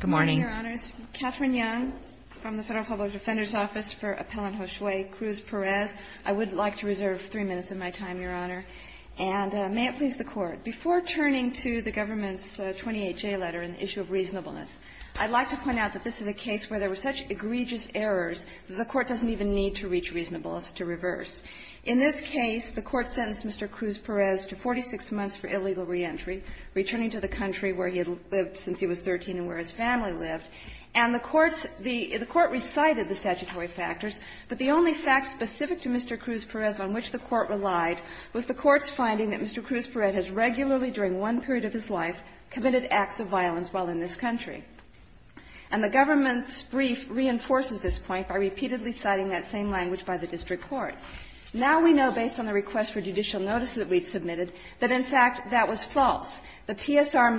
Good morning, Your Honors. Catherine Young from the Federal Public Defender's Office for Appellant Josue Cruz-Perez. I would like to reserve three minutes of my time, Your Honor. And may it please the Court, before turning to the government's 28J letter on the issue of reasonableness, I'd like to point out that this is a case where there were such egregious errors that the Court doesn't even need to reach reasonableness to reverse. In this case, the Court sentenced Mr. Cruz-Perez to 46 months for illegal reentry, returning to the country where he had lived since he was 13 and where his family lived. And the Court's the the Court recited the statutory factors, but the only fact specific to Mr. Cruz-Perez on which the Court relied was the Court's finding that Mr. Cruz-Perez has regularly, during one period of his life, committed acts of violence while in this country. And the government's brief reinforces this point by repeatedly citing that same language by the district court. Now we know, based on the request for judicial notice that we've submitted, that in fact that was false. The PSR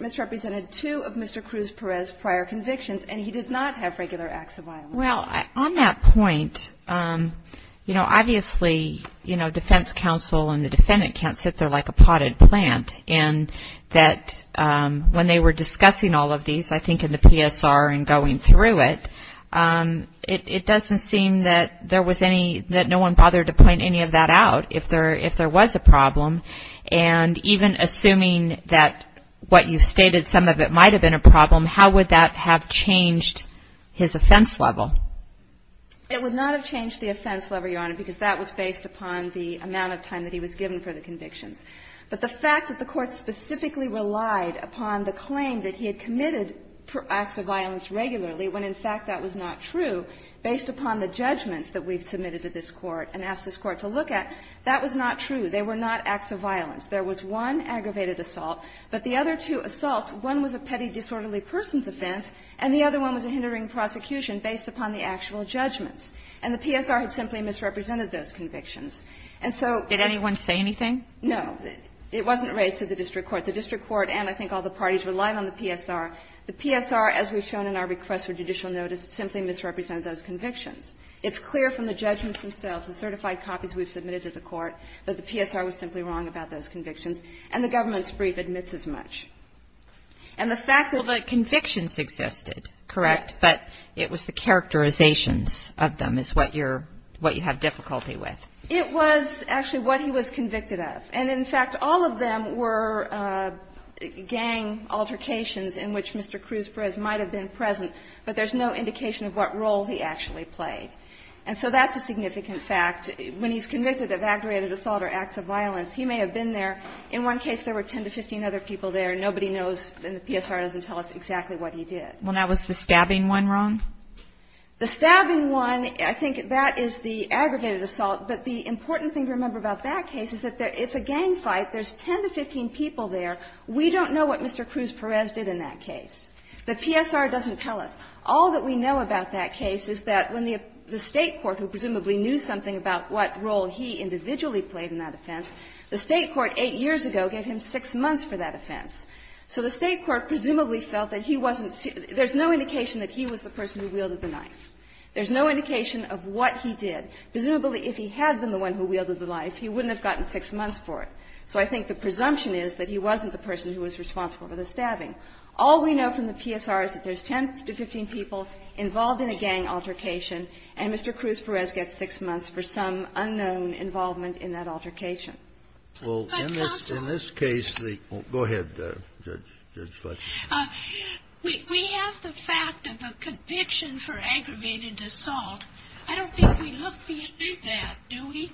misrepresented two of Mr. Cruz-Perez's prior convictions, and he did not have regular acts of violence. Well, on that point, you know, obviously, you know, defense counsel and the defendant can't sit there like a potted plant. And that when they were discussing all of these, I think in the PSR and going through it, it doesn't seem that there was any, that no one bothered to point any of that out if there was a problem. And even assuming that what you've stated, some of it might have been a problem, how would that have changed his offense level? It would not have changed the offense level, Your Honor, because that was based upon the amount of time that he was given for the convictions. But the fact that the Court specifically relied upon the claim that he had committed acts of violence regularly, when in fact that was not true, based upon the judgments that we've submitted to this Court and asked this Court to look at, that was not true. They were not acts of violence. There was one aggravated assault, but the other two assaults, one was a petty disorderly person's offense, and the other one was a hindering prosecution based upon the actual judgments, and the PSR had simply misrepresented those convictions. And so the PSR, as we've shown in our request for judicial notice, simply misrepresented those convictions. It's clear from the judgments themselves, the certified copies we've submitted to the Court, that the PSR was simply wrong about those convictions, and the government's brief admits as much. And the fact that the convictions existed, correct, but it was the characterizations of them is what you're – what you have difficulty with. It was actually what he was convicted of. And in fact, all of them were gang altercations in which Mr. Cruz Perez might have been present, but there's no indication of what role he actually played. And so that's a significant fact. When he's convicted of aggravated assault or acts of violence, he may have been there. In one case, there were 10 to 15 other people there. Nobody knows, and the PSR doesn't tell us exactly what he did. Well, now, was the stabbing one wrong? The stabbing one, I think that is the aggravated assault. But the important thing to remember about that case is that it's a gang fight. There's 10 to 15 people there. We don't know what Mr. Cruz Perez did in that case. The PSR doesn't tell us. All that we know about that case is that when the State court, who presumably knew something about what role he individually played in that offense, the State court 8 years ago gave him 6 months for that offense. So the State court presumably felt that he wasn't – there's no indication that he was the person who wielded the knife. There's no indication of what he did. Presumably, if he had been the one who wielded the knife, he wouldn't have gotten 6 months for it. So I think the presumption is that he wasn't the person who was responsible for the stabbing. All we know from the PSR is that there's 10 to 15 people involved in a gang altercation, and Mr. Cruz Perez gets 6 months for some unknown involvement in that altercation. Well, in this case, the – go ahead, Judge Fletcher. We have the fact of a conviction for aggravated assault. I don't think we look beyond that, do we?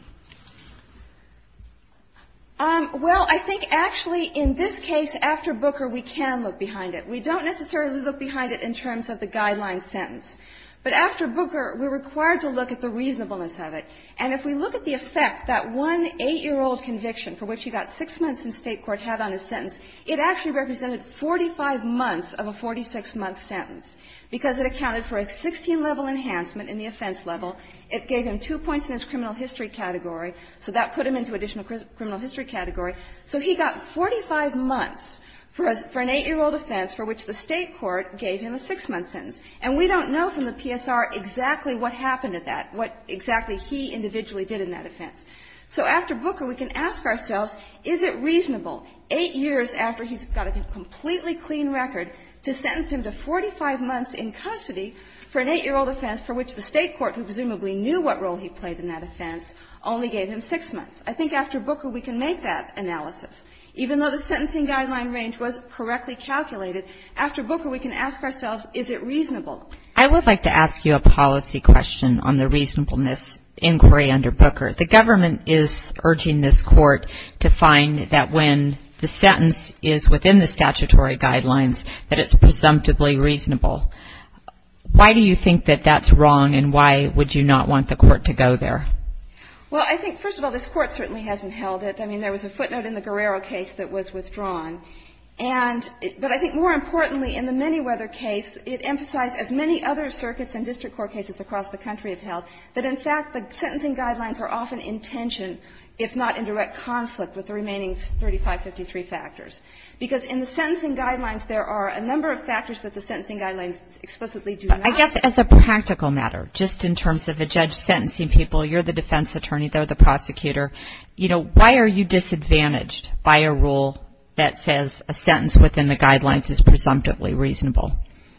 Well, I think, actually, in this case, after Booker, we can look behind it. We don't necessarily look behind it in terms of the guideline sentence. But after Booker, we're required to look at the reasonableness of it. And if we look at the effect that one 8-year-old conviction, for which he got 6 months in State court, had on his sentence, it actually represented 45 months of a 46-month sentence, because it accounted for a 16-level enhancement in the offense level. It gave him two points in his criminal history category, so that put him into additional criminal history category. So he got 45 months for an 8-year-old offense, for which the State court gave him a 6-month sentence. And we don't know from the PSR exactly what happened at that, what exactly he individually did in that offense. So after Booker, we can ask ourselves, is it reasonable, 8 years after he's got a completely clean record, to sentence him to 45 months in custody for an 8-year-old offense for which the State court, who presumably knew what role he played in that offense, only gave him 6 months? I think after Booker, we can make that analysis. Even though the sentencing guideline range was correctly calculated, after Booker, we can ask ourselves, is it reasonable? I would like to ask you a policy question on the reasonableness inquiry under Booker. The government is urging this Court to find that when the sentence is within the statutory guidelines, that it's presumptively reasonable. Why do you think that that's wrong, and why would you not want the Court to go there? Well, I think, first of all, this Court certainly hasn't held it. I mean, there was a footnote in the Guerrero case that was withdrawn. And but I think more importantly, in the Manyweather case, it emphasized, as many other circuits and district court cases across the country have held, that in fact, the sentencing guidelines are often in tension, if not in direct conflict, with the remaining 3553 factors. Because in the sentencing guidelines, there are a number of factors that the sentencing guidelines explicitly do not. I guess as a practical matter, just in terms of a judge sentencing people, you're the defense attorney, they're the prosecutor. You know, why are you disadvantaged by a rule that says a sentence within the guidelines is presumptively reasonable?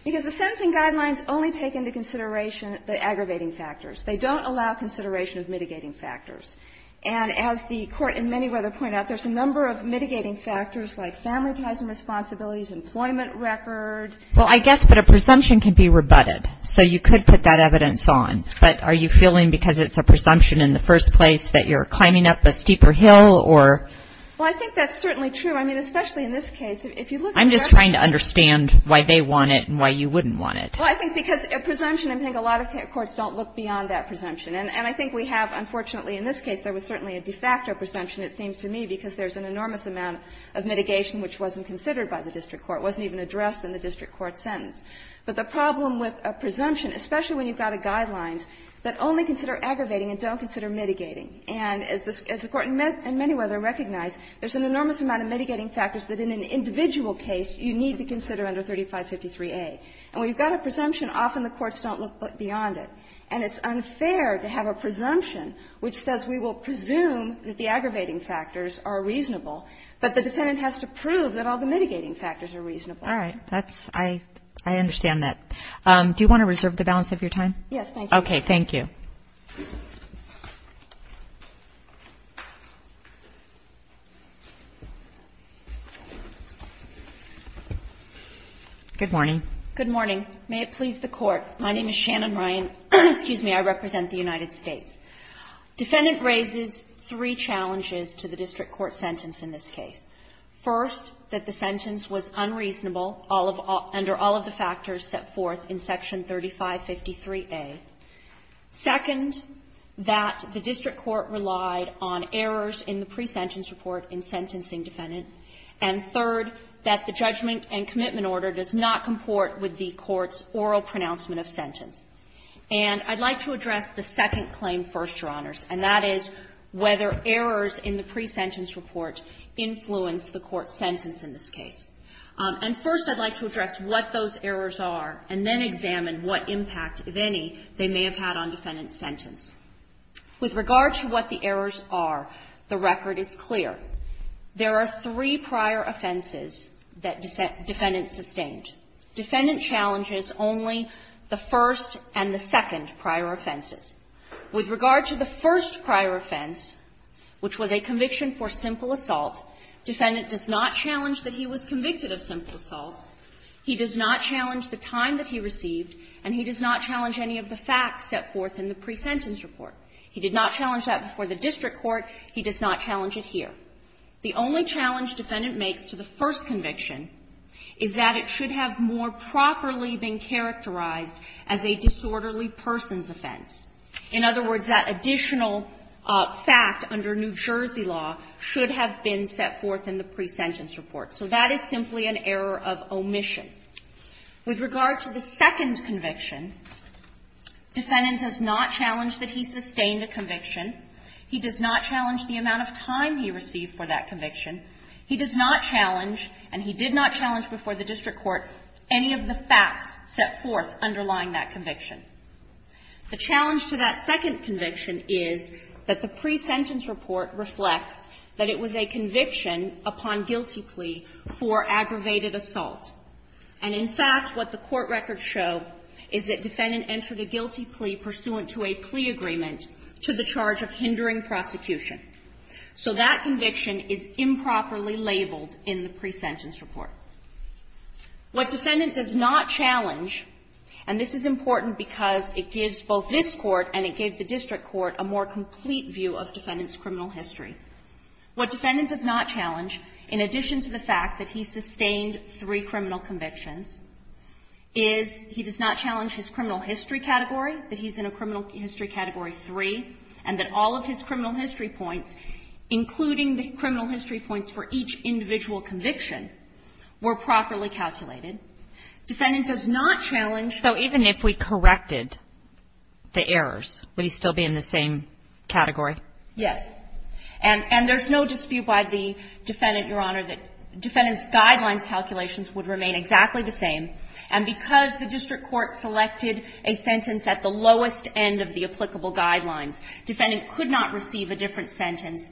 Because the sentencing guidelines only take into consideration the aggravating factors. They don't allow consideration of mitigating factors. And as the Court in Manyweather pointed out, there's a number of mitigating factors, like family ties and responsibilities, employment record. Well, I guess, but a presumption can be rebutted. So you could put that evidence on. But are you feeling because it's a presumption in the first place that you're climbing up a steeper hill or? Well, I think that's certainly true. I mean, especially in this case. If you look at that. I'm just trying to understand why they want it and why you wouldn't want it. Well, I think because a presumption, I think a lot of courts don't look beyond that presumption. And I think we have, unfortunately, in this case, there was certainly a de facto presumption, it seems to me, because there's an enormous amount of mitigation which wasn't considered by the district court. It wasn't even addressed in the district court sentence. But the problem with a presumption, especially when you've got a guideline that only consider aggravating and don't consider mitigating. And as the Court in Manyweather recognized, there's an enormous amount of mitigating factors that in an individual case you need to consider under 3553A. And when you've got a presumption, often the courts don't look beyond it. And it's unfair to have a presumption which says we will presume that the aggravating factors are reasonable, but the defendant has to prove that all the mitigating factors are reasonable. All right. That's – I understand that. Do you want to reserve the balance of your time? Yes, thank you. Okay. Thank you. Good morning. Good morning. May it please the Court. My name is Shannon Ryan. Excuse me. I represent the United States. Defendant raises three challenges to the district court sentence in this case. First, that the sentence was unreasonable under all of the factors set forth in Section 3553A. Second, that the district court relied on errors in the presentence report in sentencing defendant. And third, that the judgment and commitment order does not comport with the court's oral pronouncement of sentence. And I'd like to address the second claim first, Your Honors, and that is whether errors in the presentence report influence the court's sentence in this case. And first, I'd like to address what those errors are and then examine what impact, if any, they may have had on defendant's sentence. With regard to what the errors are, the record is clear. There are three prior offenses that defendant sustained. Defendant challenges only the first and the second prior offenses. With regard to the first prior offense, which was a conviction for simple assault, defendant does not challenge that he was convicted of simple assault. He does not challenge the time that he received, and he does not challenge any of the facts set forth in the presentence report. He did not challenge that before the district court. He does not challenge it here. The only challenge defendant makes to the first conviction is that it should have more properly been characterized as a disorderly person's offense. In other words, that additional fact under New Jersey law should have been set forth in the presentence report. So that is simply an error of omission. With regard to the second conviction, defendant does not challenge that he sustained a conviction. He does not challenge the amount of time he received for that conviction. He does not challenge, and he did not challenge before the district court, any of the facts set forth underlying that conviction. The challenge to that second conviction is that the presentence report reflects that it was a conviction upon guilty plea for aggravated assault. And in fact, what the court records show is that defendant entered a guilty plea pursuant to a plea agreement to the charge of hindering prosecution. So that conviction is improperly labeled in the presentence report. What defendant does not challenge, and this is important because it gives both this court and it gave the district court a more complete view of defendant's criminal history. What defendant does not challenge, in addition to the fact that he sustained three criminal convictions, is he does not challenge his criminal history category, that he's in a criminal history category three, and that all of his criminal history points, including the criminal history points for each individual conviction, were properly calculated. Defendant does not challenge. So even if we corrected the errors, would he still be in the same category? Yes. And there's no dispute by the defendant, Your Honor, that defendant's guidelines calculations would remain exactly the same. And because the district court selected a sentence at the lowest end of the applicable guidelines, defendant could not receive a different sentence,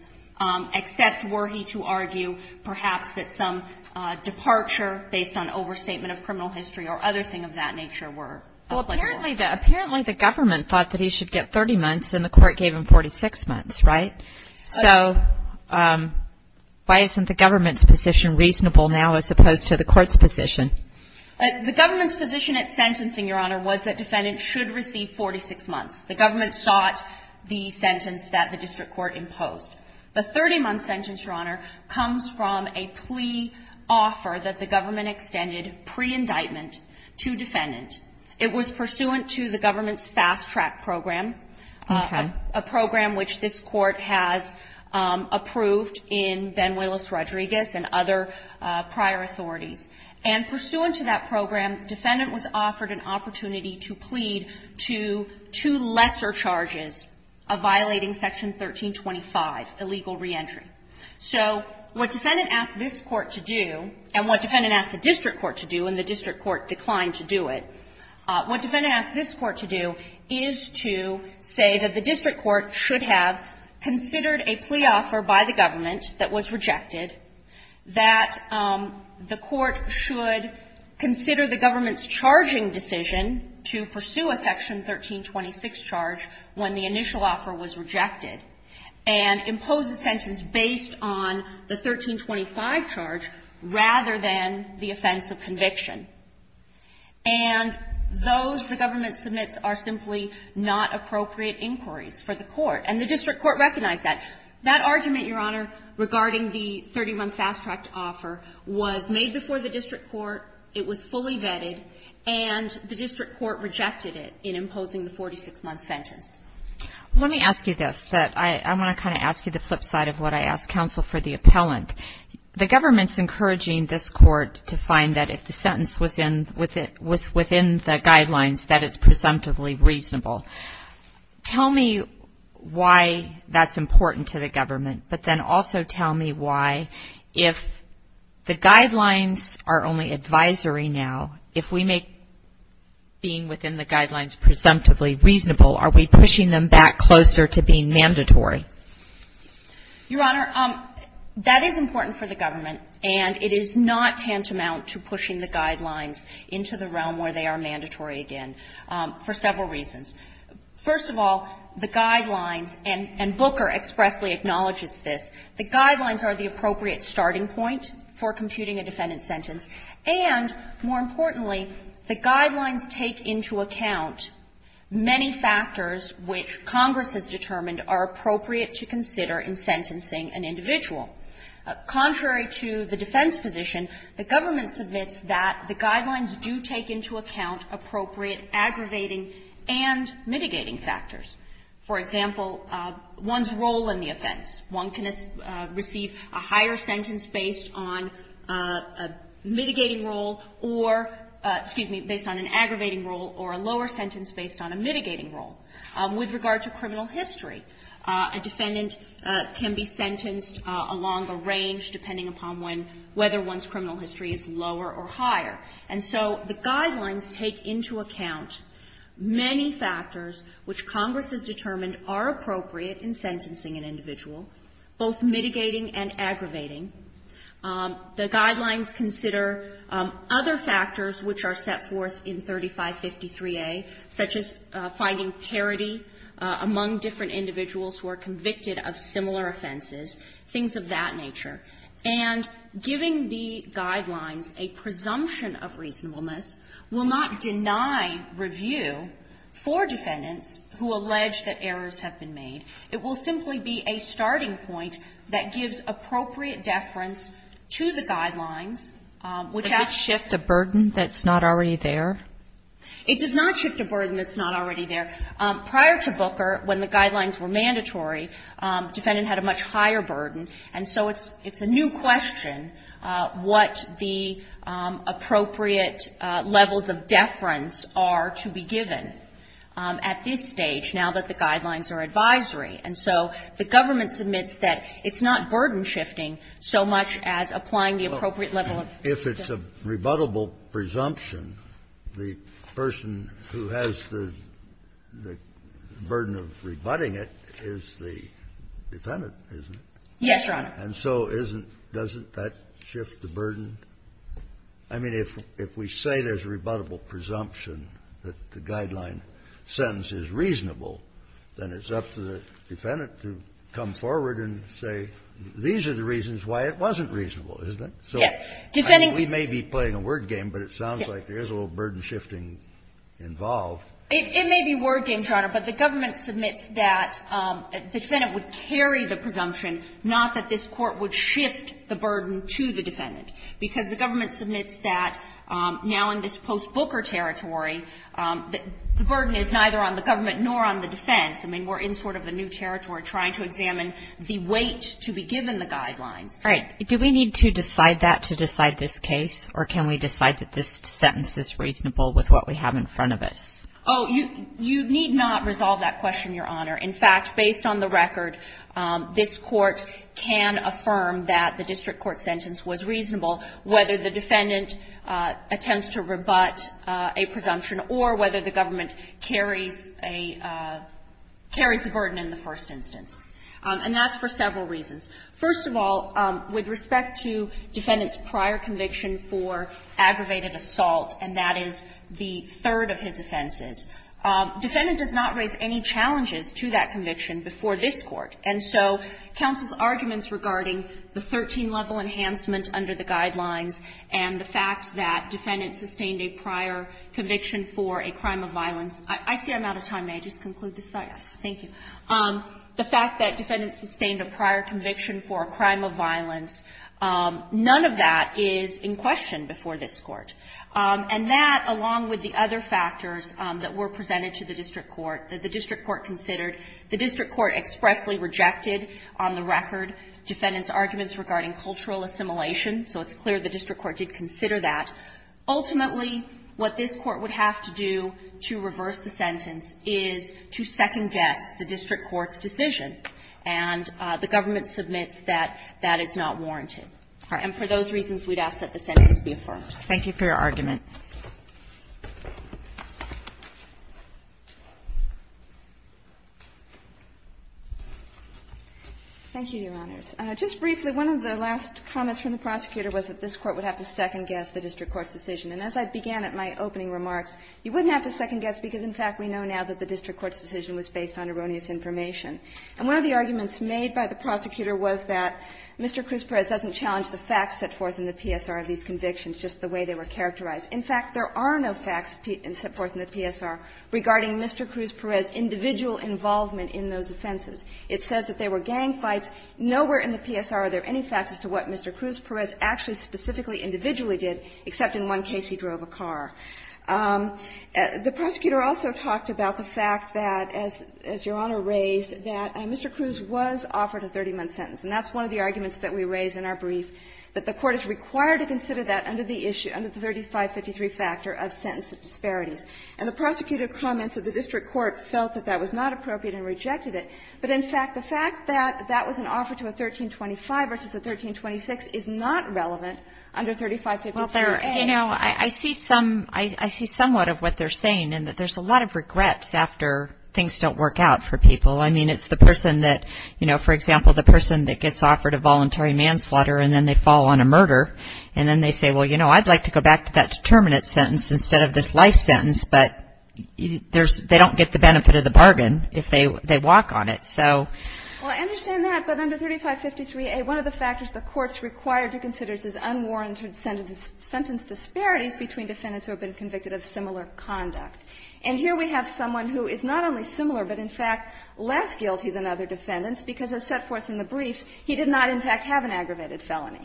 except were he to argue perhaps that some departure based on overstatement of criminal history or other thing of that nature were applicable. Well, apparently the government thought that he should get 30 months, and the court gave him 46 months, right? So why isn't the government's position reasonable now as opposed to the court's position? The government's position at sentencing, Your Honor, was that defendant should receive 46 months. The government sought the sentence that the district court imposed. The 30-month sentence, Your Honor, comes from a plea offer that the government extended pre-indictment to defendant. It was pursuant to the government's fast-track program, a program which this court has approved in Ben Willis-Rodriguez and other prior authorities. And pursuant to that program, defendant was offered an opportunity to plead to two lesser charges of violating Section 1325, illegal reentry. So what defendant asked this court to do, and what defendant asked the district court to do, and the district court declined to do it, what defendant asked this court to do is to say that the district court should have considered a plea offer by the government that was rejected, that the court should consider the government's 1326 charge when the initial offer was rejected, and impose the sentence based on the 1325 charge rather than the offense of conviction. And those the government submits are simply not appropriate inquiries for the court. And the district court recognized that. That argument, Your Honor, regarding the 30-month fast-tracked offer was made before the district court. It was fully vetted, and the district court rejected it in imposing the 46-month sentence. Let me ask you this. I want to kind of ask you the flip side of what I asked counsel for the appellant. The government's encouraging this court to find that if the sentence was within the guidelines, that it's presumptively reasonable. Tell me why that's important to the government, but then also tell me why if the guidelines are only advisory now, if we make being within the guidelines presumptively reasonable, are we pushing them back closer to being mandatory? Your Honor, that is important for the government, and it is not tantamount to pushing the guidelines into the realm where they are mandatory again for several reasons. First of all, the guidelines, and Booker expressly acknowledges this, the guidelines are the appropriate starting point for computing a defendant's sentence, and more importantly, the guidelines take into account many factors which Congress has determined are appropriate to consider in sentencing an individual. Contrary to the defense position, the government submits that the guidelines do take into account appropriate aggravating and mitigating factors. For example, one's role in the offense, one can receive fines, one can receive a higher sentence based on a mitigating role or, excuse me, based on an aggravating role or a lower sentence based on a mitigating role. With regard to criminal history, a defendant can be sentenced along a range, depending upon when, whether one's criminal history is lower or higher. And so the guidelines take into account many factors which Congress has determined are appropriate in sentencing an individual, both mitigating and aggravating The guidelines consider other factors which are set forth in 3553A, such as finding parity among different individuals who are convicted of similar offenses, things of that nature. And giving the guidelines a presumption of reasonableness will not deny review for defendants who allege that errors have been made. It will simply be a starting point that gives appropriate deference to the guidelines which act as a burden that's not already there. It does not shift a burden that's not already there. Prior to Booker, when the guidelines were mandatory, defendant had a much higher burden. And so it's a new question what the appropriate levels of deference are to be given at this stage, now that the guidelines are advisory. And so the government submits that it's not burden shifting so much as applying the appropriate level of deference. If it's a rebuttable presumption, the person who has the burden of rebutting it is the defendant, isn't it? Yes, Your Honor. And so isn't, doesn't that shift the burden? I mean, if we say there's a rebuttable presumption that the guideline sentence is reasonable, then it's up to the defendant to come forward and say, these are the reasons why it wasn't reasonable, isn't it? Yes. Defending. We may be playing a word game, but it sounds like there is a little burden shifting involved. It may be a word game, Your Honor, but the government submits that the defendant because the government submits that now in this post-Booker territory, the burden is neither on the government nor on the defense. I mean, we're in sort of a new territory trying to examine the weight to be given the guidelines. Right. Do we need to decide that to decide this case, or can we decide that this sentence is reasonable with what we have in front of us? Oh, you need not resolve that question, Your Honor. In fact, based on the record, this Court can affirm that the district court that submitted the sentence was reasonable whether the defendant attempts to rebut a presumption or whether the government carries a burden in the first instance. And that's for several reasons. First of all, with respect to defendant's prior conviction for aggravated assault, and that is the third of his offenses, defendant does not raise any challenges to that conviction before this Court. And so counsel's arguments regarding the 13-level enhancement under the guidelines and the fact that defendant sustained a prior conviction for a crime of violence – I see I'm out of time. May I just conclude this? Yes. Thank you. The fact that defendant sustained a prior conviction for a crime of violence, none of that is in question before this Court. And that, along with the other factors that were presented to the district court, that the district court considered, the district court expressly rejected on the record defendant's arguments regarding cultural assimilation. So it's clear the district court did consider that. Ultimately, what this Court would have to do to reverse the sentence is to second guess the district court's decision. And the government submits that that is not warranted. And for those reasons, we'd ask that the sentence be affirmed. Thank you for your argument. Thank you, Your Honors. Just briefly, one of the last comments from the prosecutor was that this Court would have to second guess the district court's decision. And as I began at my opening remarks, you wouldn't have to second guess because in fact we know now that the district court's decision was based on erroneous information. And one of the arguments made by the prosecutor was that Mr. Cruz Perez doesn't challenge the facts set forth in the PSR of these convictions, just the way they were characterized. In fact, there are no facts set forth in the PSR regarding Mr. Cruz Perez's individual involvement in those offenses. It says that there were gang fights. Nowhere in the PSR are there any facts as to what Mr. Cruz Perez actually specifically individually did, except in one case he drove a car. The prosecutor also talked about the fact that, as Your Honor raised, that Mr. Cruz was offered a 30-month sentence, and that's one of the arguments that we raised in our brief, that the Court is required to consider that under the issue, under the 3553 factor of sentence disparities. And the prosecutor comments that the district court felt that that was not appropriate and rejected it. But in fact, the fact that that was an offer to a 1325 versus a 1326 is not relevant under 3553. Well, there are, you know, I see some, I see somewhat of what they're saying, and that there's a lot of regrets after things don't work out for people. I mean, it's the person that, you know, for example, the person that gets offered a voluntary manslaughter and then they fall on a murder, and then they say, well, you know, I'd like to go back to that determinate sentence instead of this life sentence, but there's, they don't get the benefit of the bargain if they walk on it. So. Well, I understand that, but under 3553A, one of the factors the Court's required to consider is unwarranted sentence disparities between defendants who have been convicted of similar conduct. And here we have someone who is not only similar, but in fact less guilty than other defendants because, as set forth in the briefs, he did not, in fact, have an aggravated felony.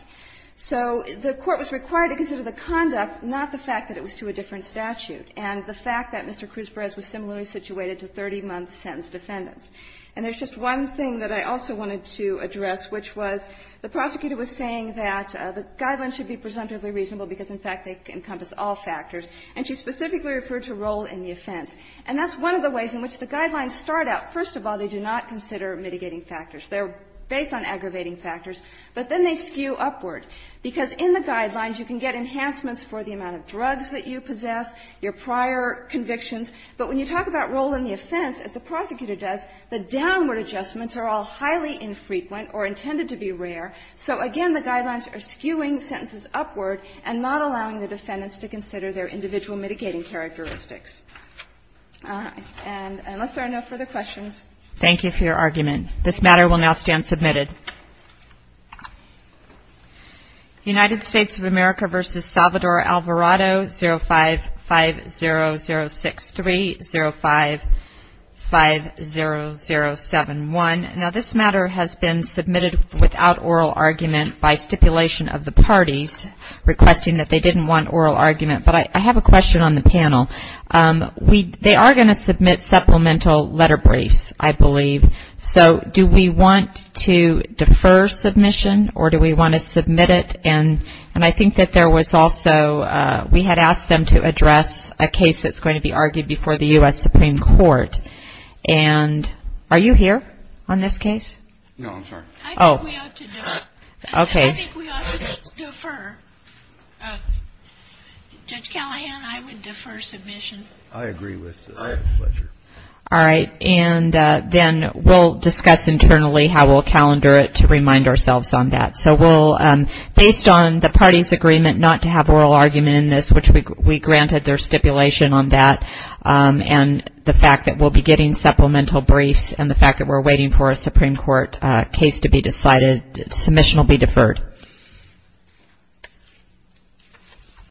So the Court was required to consider the conduct, not the fact that it was to a different statute, and the fact that Mr. Cruz-Perez was similarly situated to 30-month sentence defendants. And there's just one thing that I also wanted to address, which was the prosecutor was saying that the guidelines should be presumptively reasonable because, in fact, they encompass all factors, and she specifically referred to role in the offense. And that's one of the ways in which the guidelines start out. First of all, they do not consider mitigating factors. They're based on aggravating factors, but then they skew upward, because in the guidelines you can get enhancements for the amount of drugs that you possess, your prior convictions, but when you talk about role in the offense, as the prosecutor does, the downward adjustments are all highly infrequent or intended to be rare. So again, the guidelines are skewing sentences upward and not allowing the defendants to consider their individual mitigating characteristics. All right. And unless there are no further questions. Thank you for your argument. This matter will now stand submitted. United States of America v. Salvador Alvarado, 05-50063, 05-50071. Now, this matter has been submitted without oral argument by stipulation of the parties requesting that they didn't want oral argument, but I have a question on the panel. They are going to submit supplemental letter briefs, I believe. So do we want to defer submission or do we want to submit it? And I think that there was also, we had asked them to address a case that's going to be argued before the U.S. Supreme Court. And are you here on this case? No, I'm sorry. I think we ought to defer. Okay. I agree with that. All right. And then we'll discuss internally how we'll calendar it to remind ourselves on that. So we'll, based on the parties' agreement not to have oral argument in this, which we granted their stipulation on that, and the fact that we'll be getting supplemental briefs and the fact that we're waiting for a Supreme Court case to be decided, submission will be deferred.